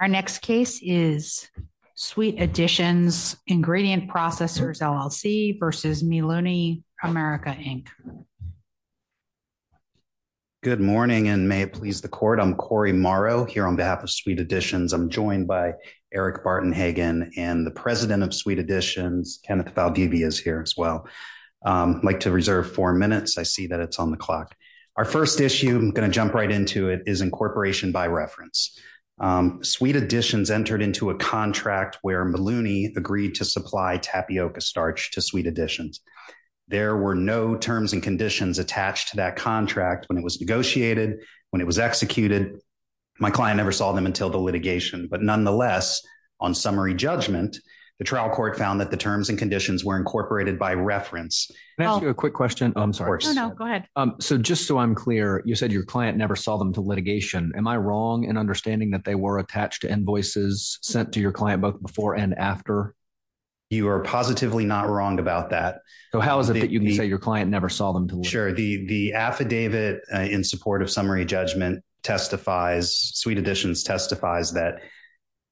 Our next case is Sweet Additions Ingredient Processors, LLC v. Meelunie America, Inc. Good morning and may it please the court. I'm Corey Morrow here on behalf of Sweet Additions. I'm joined by Eric Barton Hagan and the president of Sweet Additions, Kenneth Valdivia is here as well. I'd like to reserve four minutes. I see that it's on the clock. Our first issue, I'm going to jump right into it, is incorporation by reference. Sweet Additions entered into a contract where Meelunie agreed to supply tapioca starch to Sweet Additions. There were no terms and conditions attached to that contract when it was negotiated, when it was executed. My client never saw them until the litigation, but nonetheless, on summary judgment, the trial court found that the terms and conditions were incorporated by reference. Can I ask you a quick question? I'm sorry. No, no, go ahead. Just so I'm clear, you said your client never saw them to litigation. Am I wrong in understanding that they were attached to invoices sent to your client both before and after? You are positively not wrong about that. How is it that you can say your client never saw them to litigation? Sure. The affidavit in support of summary judgment testifies, Sweet Additions testifies, that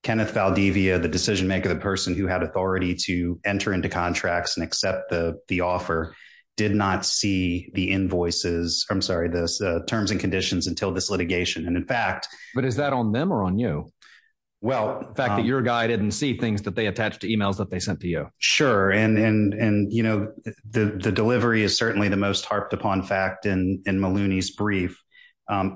Kenneth Valdivia, the decision maker, the person who had authority to enter into contracts and accept the offer, did not see the invoices, I'm sorry, the terms and conditions until this litigation. But is that on them or on you? The fact that your guy didn't see things that they attached to emails that they sent to you? Sure. The delivery is certainly the most harped upon fact in Maluni's brief.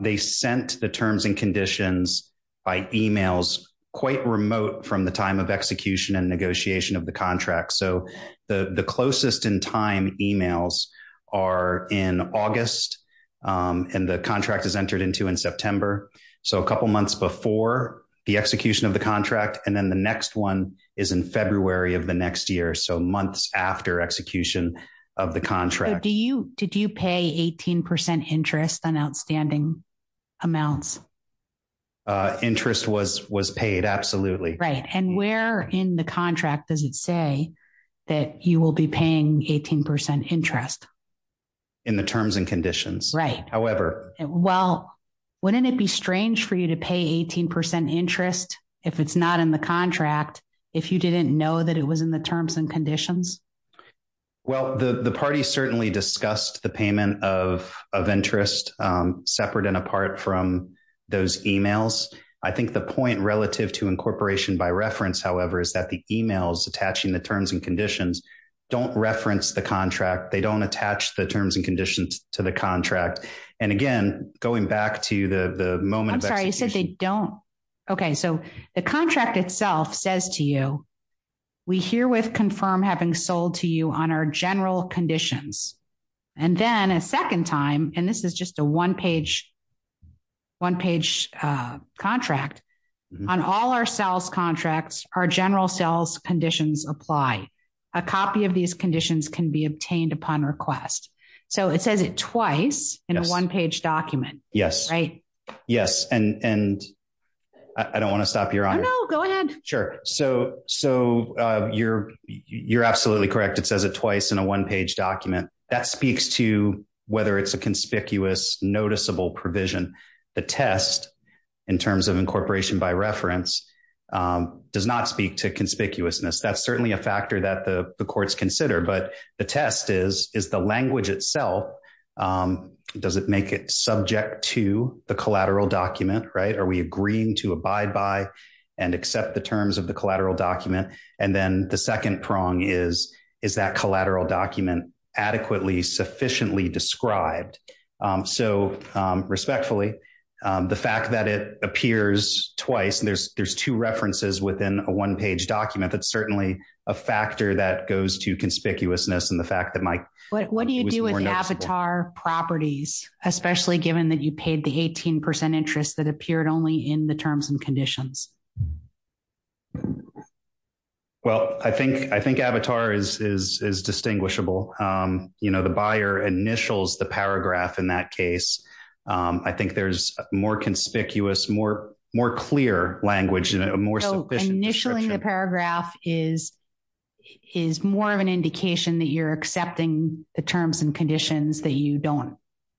They sent the terms and conditions by emails quite remote from the time of execution and negotiation of the contract. So the closest in time emails are in August, and the contract is entered into in September. So a couple months before the execution of the contract, and then the next one is in February of the next year. So months after execution of the contract. Did you pay 18% interest on outstanding amounts? Interest was paid, absolutely. Right. And where in the contract does it say that you will be paying 18% interest? In the terms and conditions. However... Well, wouldn't it be strange for you to pay 18% interest if it's not in the contract, if you didn't know that it was in the terms and conditions? Well, the party certainly discussed the payment of interest separate and apart from those emails. I think the point relative to incorporation by reference, however, is that the emails attaching the terms and conditions don't reference the contract. They don't attach the terms and conditions to the contract. And again, going back to the moment... I'm sorry, you said they don't. Okay, so the contract itself says to you, we herewith confirm having sold to you on our general conditions. And then a second time, and this is just a one-page contract, on all our sales contracts, our general sales conditions apply. A copy of these conditions can be obtained upon request. So it says it twice in a one-page document. Yes. And I don't want to stop you, Your Honor. No, go ahead. Sure. So you're absolutely correct. It says it twice in a one-page document. That speaks to whether it's a conspicuous, noticeable provision. The test, in terms of incorporation by reference, does not speak to conspicuousness. That's certainly a factor that the courts consider. But the test is, is the language itself, does it make it subject to the collateral document, right? Are we agreeing to abide by and accept the terms of the collateral document? And then the second prong is, is that collateral document adequately sufficiently described? So, respectfully, the fact that it appears twice, and there's two references within a one-page document, that's certainly a factor that goes to conspicuousness. What do you do with avatar properties, especially given that you paid the 18% interest that appeared only in the terms and conditions? Well, I think avatar is distinguishable. You know, the buyer initials the paragraph in that case. I think there's more conspicuous, more clear language and a more sufficient description. So, accepting the paragraph is more of an indication that you're accepting the terms and conditions that you don't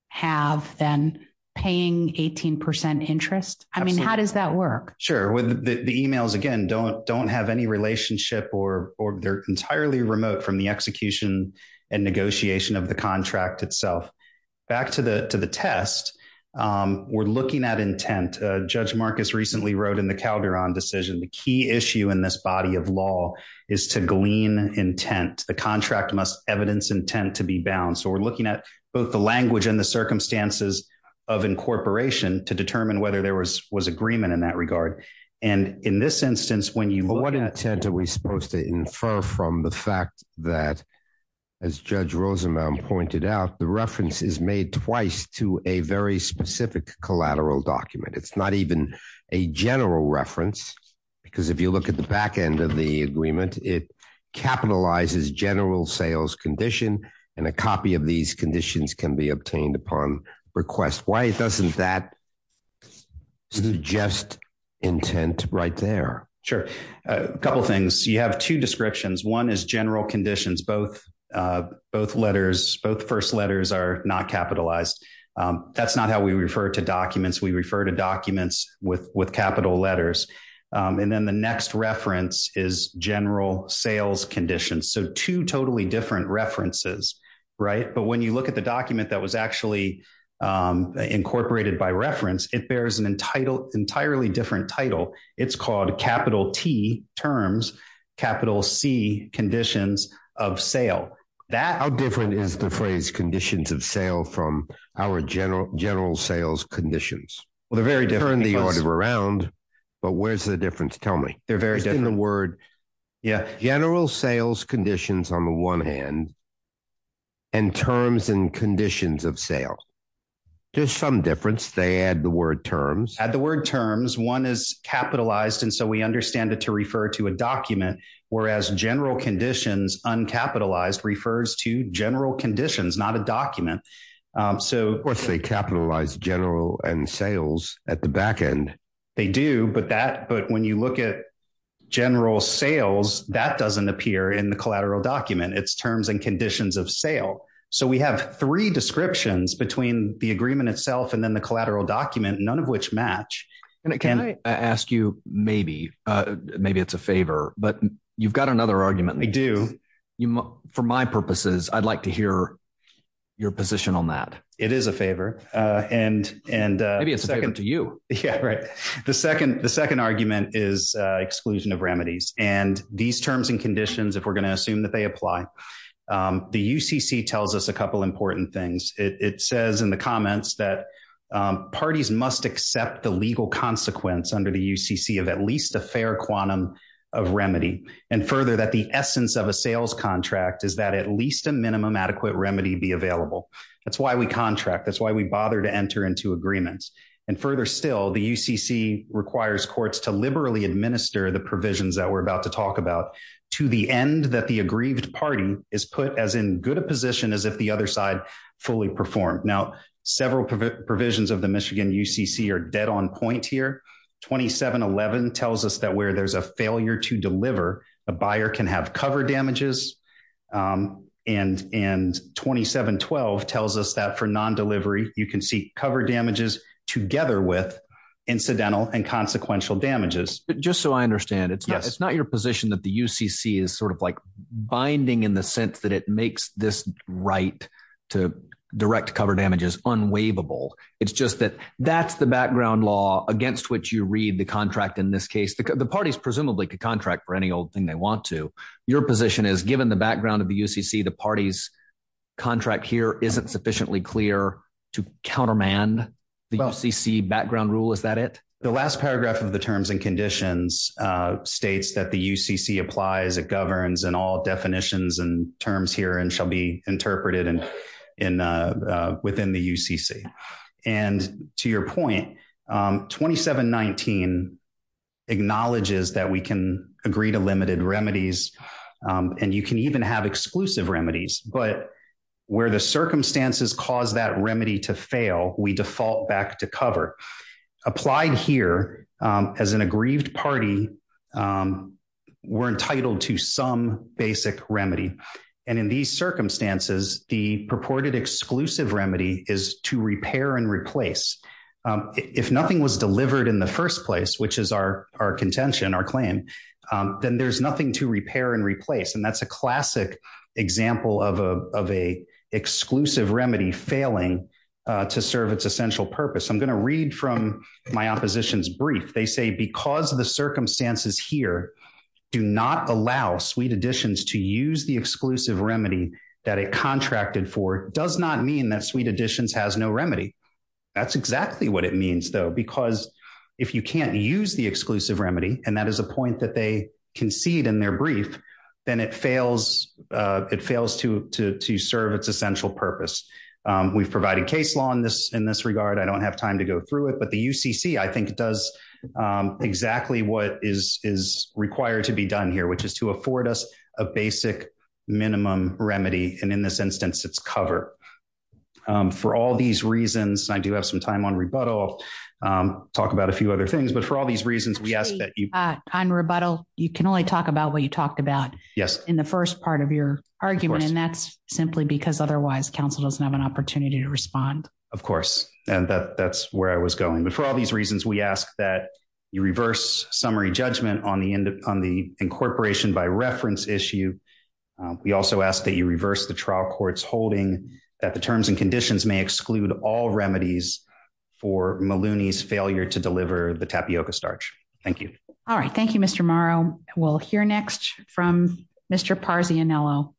have than paying 18% interest? I mean, how does that work? Sure. The emails, again, don't have any relationship or they're entirely remote from the execution and negotiation of the contract itself. Back to the test, we're looking at intent. Judge Marcus recently wrote in the Calderon decision, the key issue in this body of law is to glean intent. The contract must evidence intent to be bound. So, we're looking at both the language and the circumstances of incorporation to determine whether there was agreement in that regard. And in this instance, when you- But what intent are we supposed to infer from the fact that, as Judge Rosenbaum pointed out, the reference is made twice to a very specific collateral document? It's not even a general reference because if you look at the back end of the agreement, it capitalizes general sales condition and a copy of these conditions can be obtained upon request. Why doesn't that suggest intent right there? Sure. A couple of things. You have two descriptions. One is general conditions. Both letters, both first letters are not capitalized. That's not how we refer to documents. We refer to documents with capital letters. And then the next reference is general sales conditions. So, two totally different references, right? But when you look at the document that was actually incorporated by reference, it bears an entirely different title. It's called capital T terms, capital C conditions of sale. How different is the phrase conditions of sale from our general sales conditions? Well, they're very different. Turn the order around, but where's the difference? Tell me. They're very different. General sales conditions on the one hand, and terms and conditions of sale. There's some difference. They add the word terms. Add the word terms. One is capitalized, and so we understand it to refer to a document, whereas general conditions, uncapitalized, refers to general conditions, not a document. Of course, they capitalize general and sales at the back end. They do, but when you look at general sales, that doesn't appear in the collateral document. It's terms and conditions of sale. So, we have three descriptions between the agreement itself and then the collateral document, none of which match. Can I ask you, maybe, maybe it's a favor, but you've got another argument. I do. For my purposes, I'd like to hear your position on that. It is a favor. Maybe it's a favor to you. Yeah, right. The second argument is exclusion of remedies. These terms and conditions, if we're going to assume that they apply, the UCC tells us a couple important things. It says in the comments that parties must accept the legal consequence under the UCC of at least a fair quantum of remedy, and further, that the essence of a sales contract is that at least a minimum adequate remedy be available. That's why we contract. That's why we bother to enter into agreements. And further still, the UCC requires courts to liberally administer the provisions that we're about to talk about to the end that the aggrieved party is put as in good a position as if the other side fully performed. Now, several provisions of the Michigan UCC are dead on point here. 2711 tells us that where there's a failure to deliver, a buyer can have cover damages. And 2712 tells us that for non-delivery, you can see cover damages together with incidental and consequential damages. But just so I understand, it's not your position that the UCC is sort of like binding in the sense that it makes this right to direct cover damages unwaivable. It's just that that's the background law against which you read the contract in this case. The parties presumably could contract for any old thing they want to. Your position is given the background of the UCC, the parties' contract here isn't sufficiently clear to countermand the UCC background rule. Is that it? The last paragraph of the terms and conditions states that the UCC applies, it governs, and all definitions and terms here shall be interpreted within the UCC. And to your point, 2719 acknowledges that we can agree to limited remedies, and you can even have exclusive remedies. But where the circumstances cause that remedy to fail, we default back to cover. Applied here, as an aggrieved party, we're entitled to some basic remedy. And in these circumstances, the purported exclusive remedy is to repair and replace. If nothing was delivered in the first place, which is our contention, our claim, then there's nothing to repair and replace. And that's a classic example of an exclusive remedy failing to serve its essential purpose. I'm going to read from my opposition's brief. They say because the circumstances here do not allow Sweet Additions to use the exclusive remedy that it contracted for does not mean that Sweet Additions has no remedy. That's exactly what it means, though, because if you can't use the exclusive remedy, and that is a point that they concede in their brief, then it fails to serve its essential purpose. We've provided case law in this regard. I don't have time to go through it. But the UCC, I think, does exactly what is required to be done here, which is to afford us a basic minimum remedy. And in this instance, it's cover. For all these reasons, I do have some time on rebuttal, talk about a few other things. But for all these reasons, we ask that you... Of course. And that's where I was going. But for all these reasons, we ask that you reverse summary judgment on the incorporation by reference issue. We also ask that you reverse the trial court's holding that the terms and conditions may exclude all remedies for Maloney's failure to deliver the tapioca starch. Thank you. All right. Thank you, Mr. Morrow. We'll hear next from Mr. Parzianiello.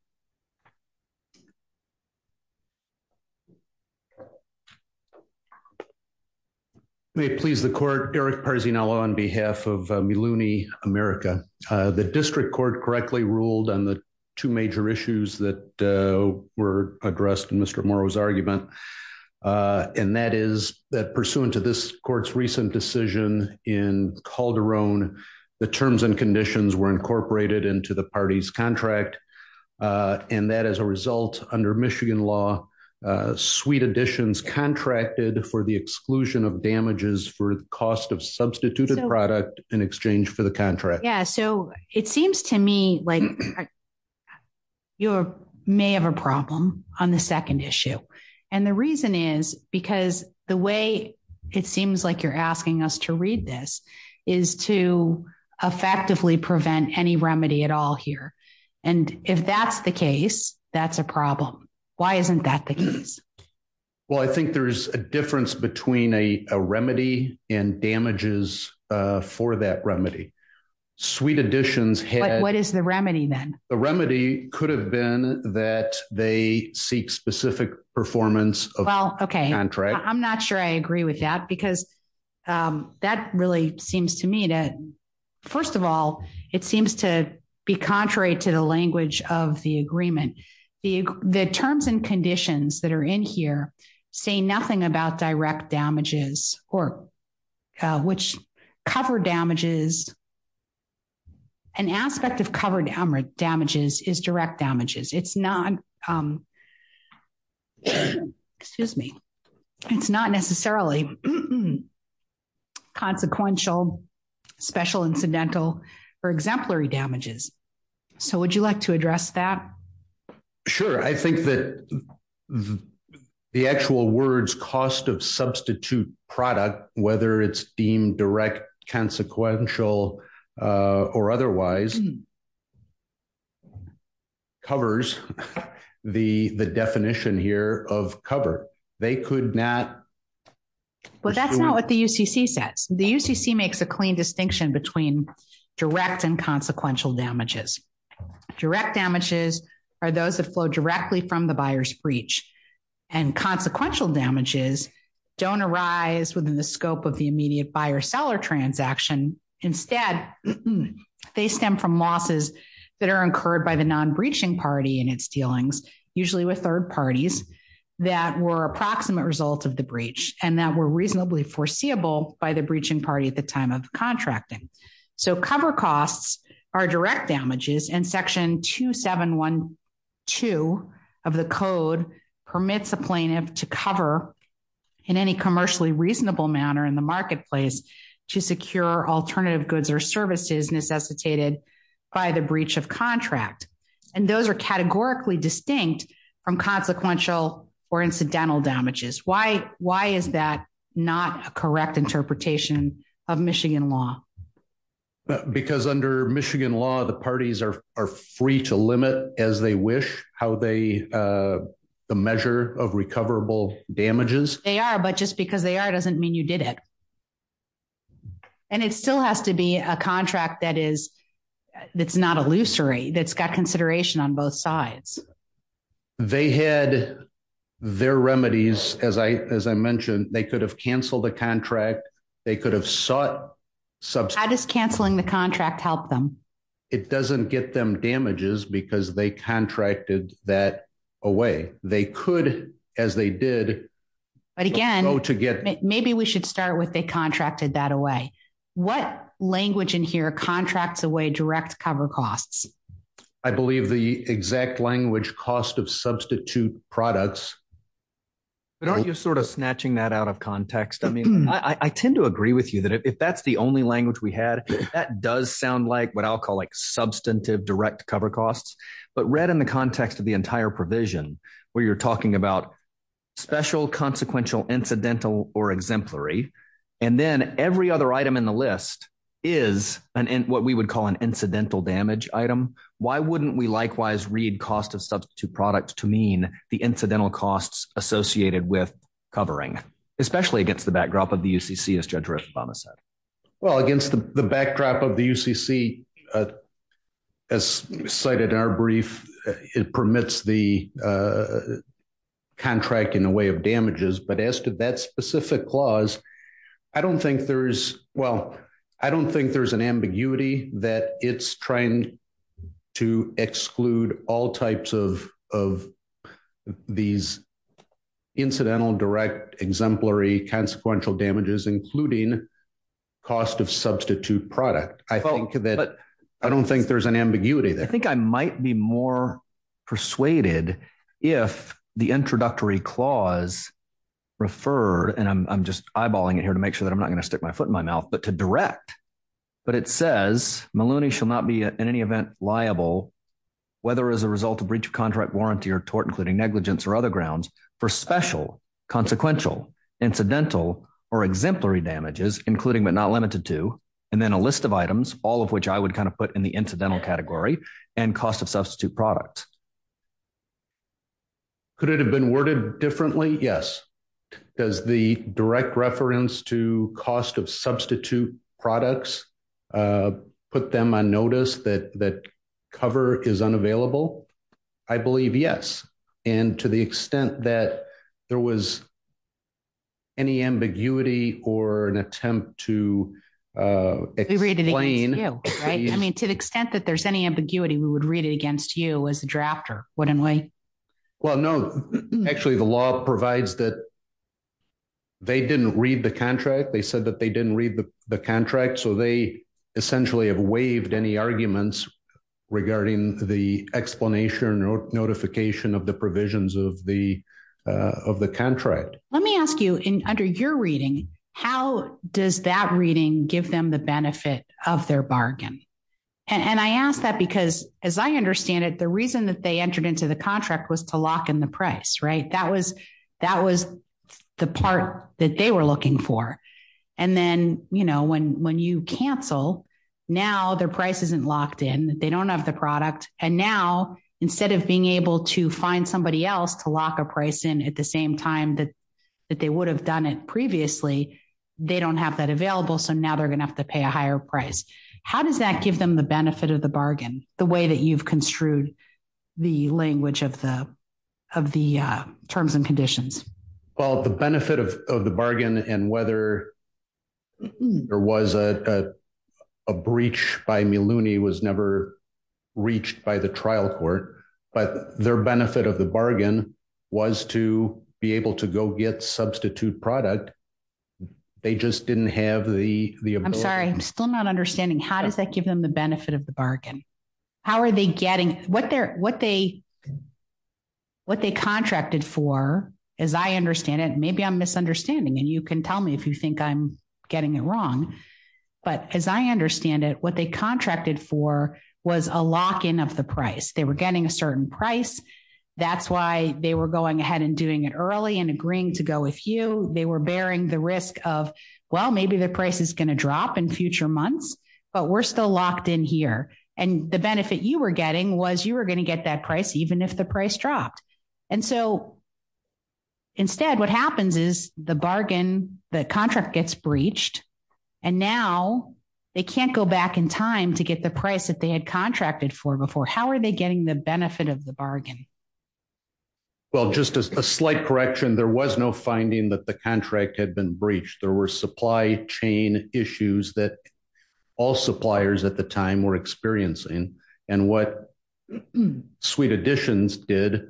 May it please the court. Derek Parzianiello on behalf of Maloney America. The district court correctly ruled on the two major issues that were addressed in Mr. Morrow's argument. And that is that pursuant to this court's recent decision in Calderon, the terms and conditions were incorporated into the party's contract. And that as a result, under Michigan law, suite additions contracted for the exclusion of damages for the cost of substituted product in exchange for the contract. Yeah. So it seems to me like you may have a problem on the second issue. And the reason is because the way it seems like you're asking us to read this is to effectively prevent any remedy at all here. And if that's the case, that's a problem. Why isn't that the case? Well, I think there's a difference between a remedy and damages for that remedy. Suite additions had... What is the remedy then? The remedy could have been that they seek specific performance of the contract. I'm not sure I agree with that because that really seems to me to... First of all, it seems to be contrary to the language of the agreement. The terms and conditions that are in here say nothing about direct damages or which cover damages. An aspect of covered damages is direct damages. It's not... Excuse me. It's not necessarily consequential, special, incidental, or exemplary damages. So would you like to address that? Sure. I think that the actual words cost of substitute product, whether it's deemed direct, consequential, or otherwise, covers the definition here of cover. They could not... Well, that's not what the UCC says. The UCC makes a clean distinction between direct and consequential damages. Direct damages are those that flow directly from the buyer's breach. And consequential damages don't arise within the scope of the immediate buyer-seller transaction. Instead, they stem from losses that are incurred by the non-breaching party in its dealings, usually with third parties, that were approximate result of the breach and that were reasonably foreseeable by the breaching party at the time of contracting. So cover costs are direct damages and Section 2712 of the Code permits a plaintiff to cover in any commercially reasonable manner in the marketplace to secure alternative goods or services necessitated by the breach of contract. And those are categorically distinct from consequential or incidental damages. Why is that not a correct interpretation of Michigan law? Because under Michigan law, the parties are free to limit as they wish the measure of recoverable damages. They are, but just because they are doesn't mean you did it. And it still has to be a contract that's not illusory, that's got consideration on both sides. They had their remedies, as I mentioned, they could have canceled the contract, they could have sought... How does canceling the contract help them? It doesn't get them damages because they contracted that away. They could, as they did... But again, maybe we should start with they contracted that away. What language in here contracts away direct cover costs? I believe the exact language cost of substitute products. But aren't you sort of snatching that out of context? I mean, I tend to agree with you that if that's the only language we had, that does sound like what I'll call like substantive direct cover costs. But read in the context of the entire provision, where you're talking about special, consequential, incidental, or exemplary. And then every other item in the list is what we would call an incidental damage item. Why wouldn't we likewise read cost of substitute products to mean the incidental costs associated with covering? Especially against the backdrop of the UCC, as Judge Riff Obama said. Well, against the backdrop of the UCC, as cited in our brief, it permits the contract in the way of damages. But as to that specific clause, I don't think there's... Well, I don't think there's an ambiguity that it's trying to exclude all types of these incidental, direct, exemplary, consequential damages, including cost of substitute product. I think that... I don't think there's an ambiguity there. I think I might be more persuaded if the introductory clause referred, and I'm just eyeballing it here to make sure that I'm not going to stick my foot in my mouth, but to direct. But it says Maloney shall not be in any event liable, whether as a result of breach of contract, warranty, or tort, including negligence or other grounds, for special, consequential, incidental, or exemplary damages, including but not limited to. And then a list of items, all of which I would kind of put in the incidental category, and cost of substitute product. Could it have been worded differently? Yes. Does the direct reference to cost of substitute products put them on notice that cover is unavailable? I believe yes. And to the extent that there was any ambiguity or an attempt to explain... We read it against you, right? I mean, to the extent that there's any ambiguity, we would read it against you as a drafter, wouldn't we? Well, no. Actually, the law provides that they didn't read the contract. They said that they didn't read the contract, so they essentially have waived any arguments regarding the explanation or notification of the provisions of the contract. Let me ask you, under your reading, how does that reading give them the benefit of their bargain? And I ask that because, as I understand it, the reason that they entered into the contract was to lock in the price, right? That was the part that they were looking for. And then when you cancel, now their price isn't locked in, they don't have the product. And now, instead of being able to find somebody else to lock a price in at the same time that they would have done it previously, they don't have that available, so now they're going to have to pay a higher price. How does that give them the benefit of the bargain, the way that you've construed the language of the terms and conditions? Well, the benefit of the bargain, and whether there was a breach by Miluni, was never reached by the trial court, but their benefit of the bargain was to be able to go get substitute product. I'm sorry, I'm still not understanding. How does that give them the benefit of the bargain? What they contracted for, as I understand it, maybe I'm misunderstanding, and you can tell me if you think I'm getting it wrong, but as I understand it, what they contracted for was a lock-in of the price. They were getting a certain price, that's why they were going ahead and doing it early and agreeing to go with you. They were bearing the risk of, well, maybe the price is going to drop in future months, but we're still locked in here. And the benefit you were getting was you were going to get that price even if the price dropped. And so instead, what happens is the bargain, the contract gets breached, and now they can't go back in time to get the price that they had contracted for before. How are they getting the benefit of the bargain? Well, just a slight correction, there was no finding that the contract had been breached. There were supply chain issues that all suppliers at the time were experiencing. And what Sweet Additions did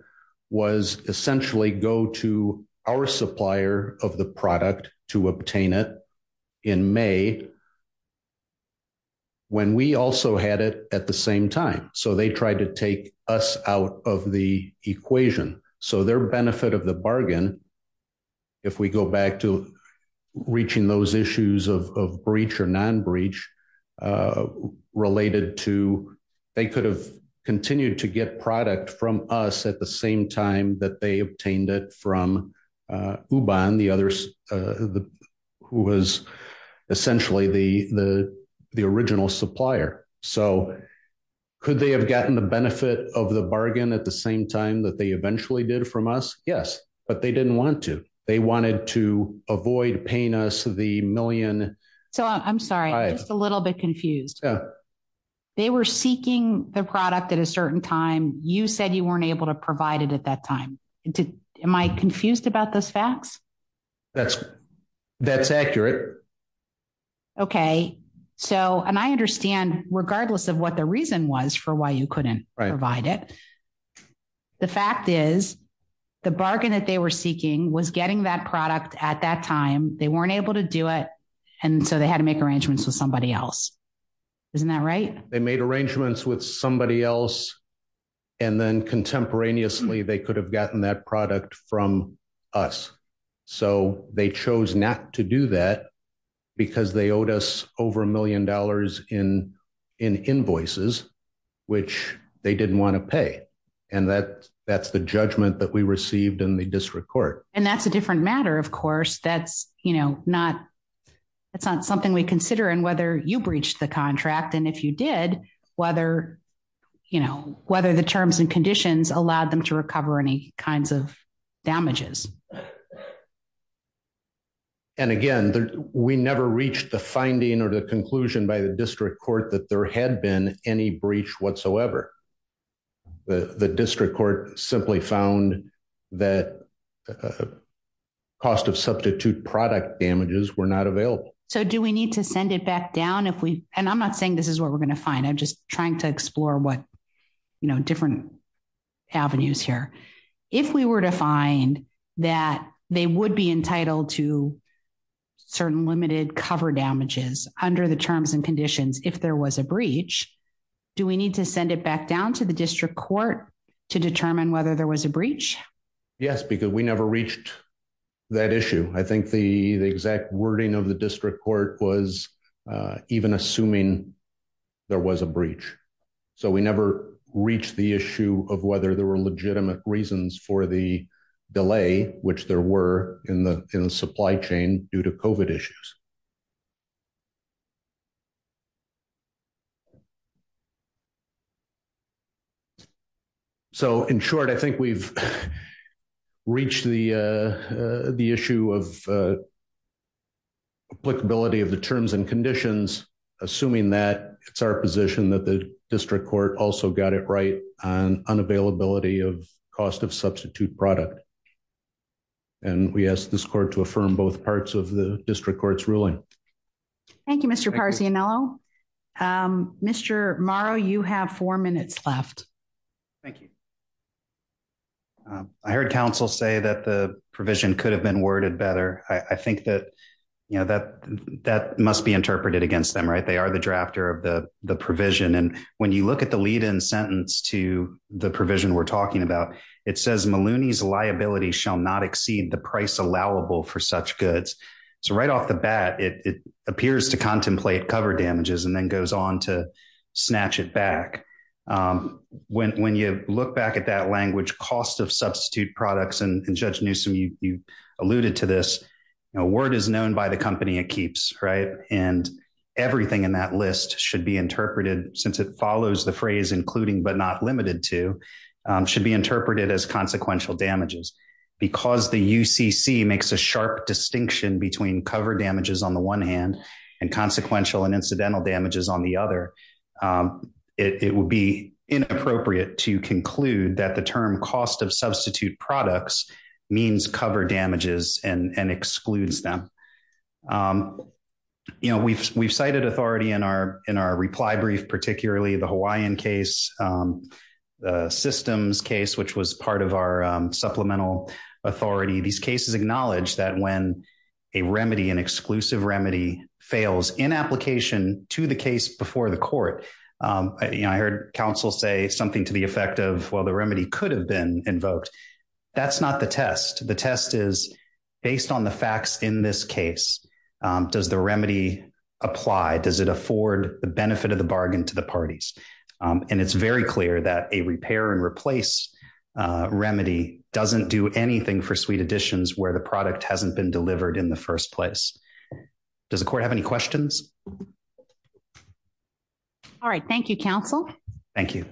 was essentially go to our supplier of the product to obtain it in May when we also had it at the same time. So they tried to take us out of the equation. So their benefit of the bargain, if we go back to reaching those issues of breach or non-breach related to, they could have continued to get product from us at the same time that they obtained it from Ubon, who was essentially the original supplier. So could they have gotten the benefit of the bargain at the same time that they eventually did from us? Yes, but they didn't want to. They wanted to avoid paying us the million. So I'm sorry, I'm just a little bit confused. They were seeking the product at a certain time. You said you weren't able to provide it at that time. Am I confused about those facts? That's accurate. Okay. So, and I understand, regardless of what the reason was for why you couldn't provide it. The fact is, the bargain that they were seeking was getting that product at that time. They weren't able to do it. And so they had to make arrangements with somebody else. Isn't that right? They made arrangements with somebody else. And then contemporaneously, they could have gotten that product from us. So they chose not to do that because they owed us over a million dollars in invoices, which they didn't want to pay. And that's the judgment that we received in the district court. And that's a different matter, of course. That's not something we consider in whether you breached the contract. And if you did, whether the terms and conditions allowed them to recover any kinds of damages. And again, we never reached the finding or the conclusion by the district court that there had been any breach whatsoever. The district court simply found that cost of substitute product damages were not available. So do we need to send it back down? And I'm not saying this is what we're going to find. I'm just trying to explore what, you know, different avenues here. If we were to find that they would be entitled to certain limited cover damages under the terms and conditions, if there was a breach, do we need to send it back down to the district court to determine whether there was a breach? Yes, because we never reached that issue. I think the exact wording of the district court was even assuming there was a breach. So we never reached the issue of whether there were legitimate reasons for the delay, which there were in the supply chain due to COVID issues. So in short, I think we've reached the issue of applicability of the terms and conditions, assuming that it's our position that the district court also got it right on unavailability of cost of substitute product. And we ask this court to affirm both parts of the district court's ruling. Thank you, Mr. Parzianello. Mr. Morrow, you have four minutes left. Thank you. I heard counsel say that the provision could have been worded better. I think that must be interpreted against them, right? They are the drafter of the provision. And when you look at the lead-in sentence to the provision we're talking about, it says Maloney's liability shall not exceed the price allowable for such goods. So right off the bat, it appears to contemplate cover damages and then goes on to snatch it back. When you look back at that language, cost of substitute products, and Judge Newsom, you alluded to this, word is known by the company it keeps, right? And everything in that list should be interpreted, since it follows the phrase including but not limited to, should be interpreted as consequential damages. Because the UCC makes a sharp distinction between cover damages on the one hand and consequential and incidental damages on the other, it would be inappropriate to conclude that the term cost of substitute products means cover damages and excludes them. We've cited authority in our reply brief, particularly the Hawaiian case, the systems case, which was part of our supplemental authority. These cases acknowledge that when a remedy, an exclusive remedy, fails in application to the case before the court, I heard counsel say something to the effect of, well, the remedy could have been invoked. That's not the test. The test is based on the facts in this case. Does the remedy apply? Does it afford the benefit of the bargain to the parties? And it's very clear that a repair and replace remedy doesn't do anything for sweet additions where the product hasn't been delivered in the first place. Does the court have any questions? All right. Thank you, counsel. Thank you.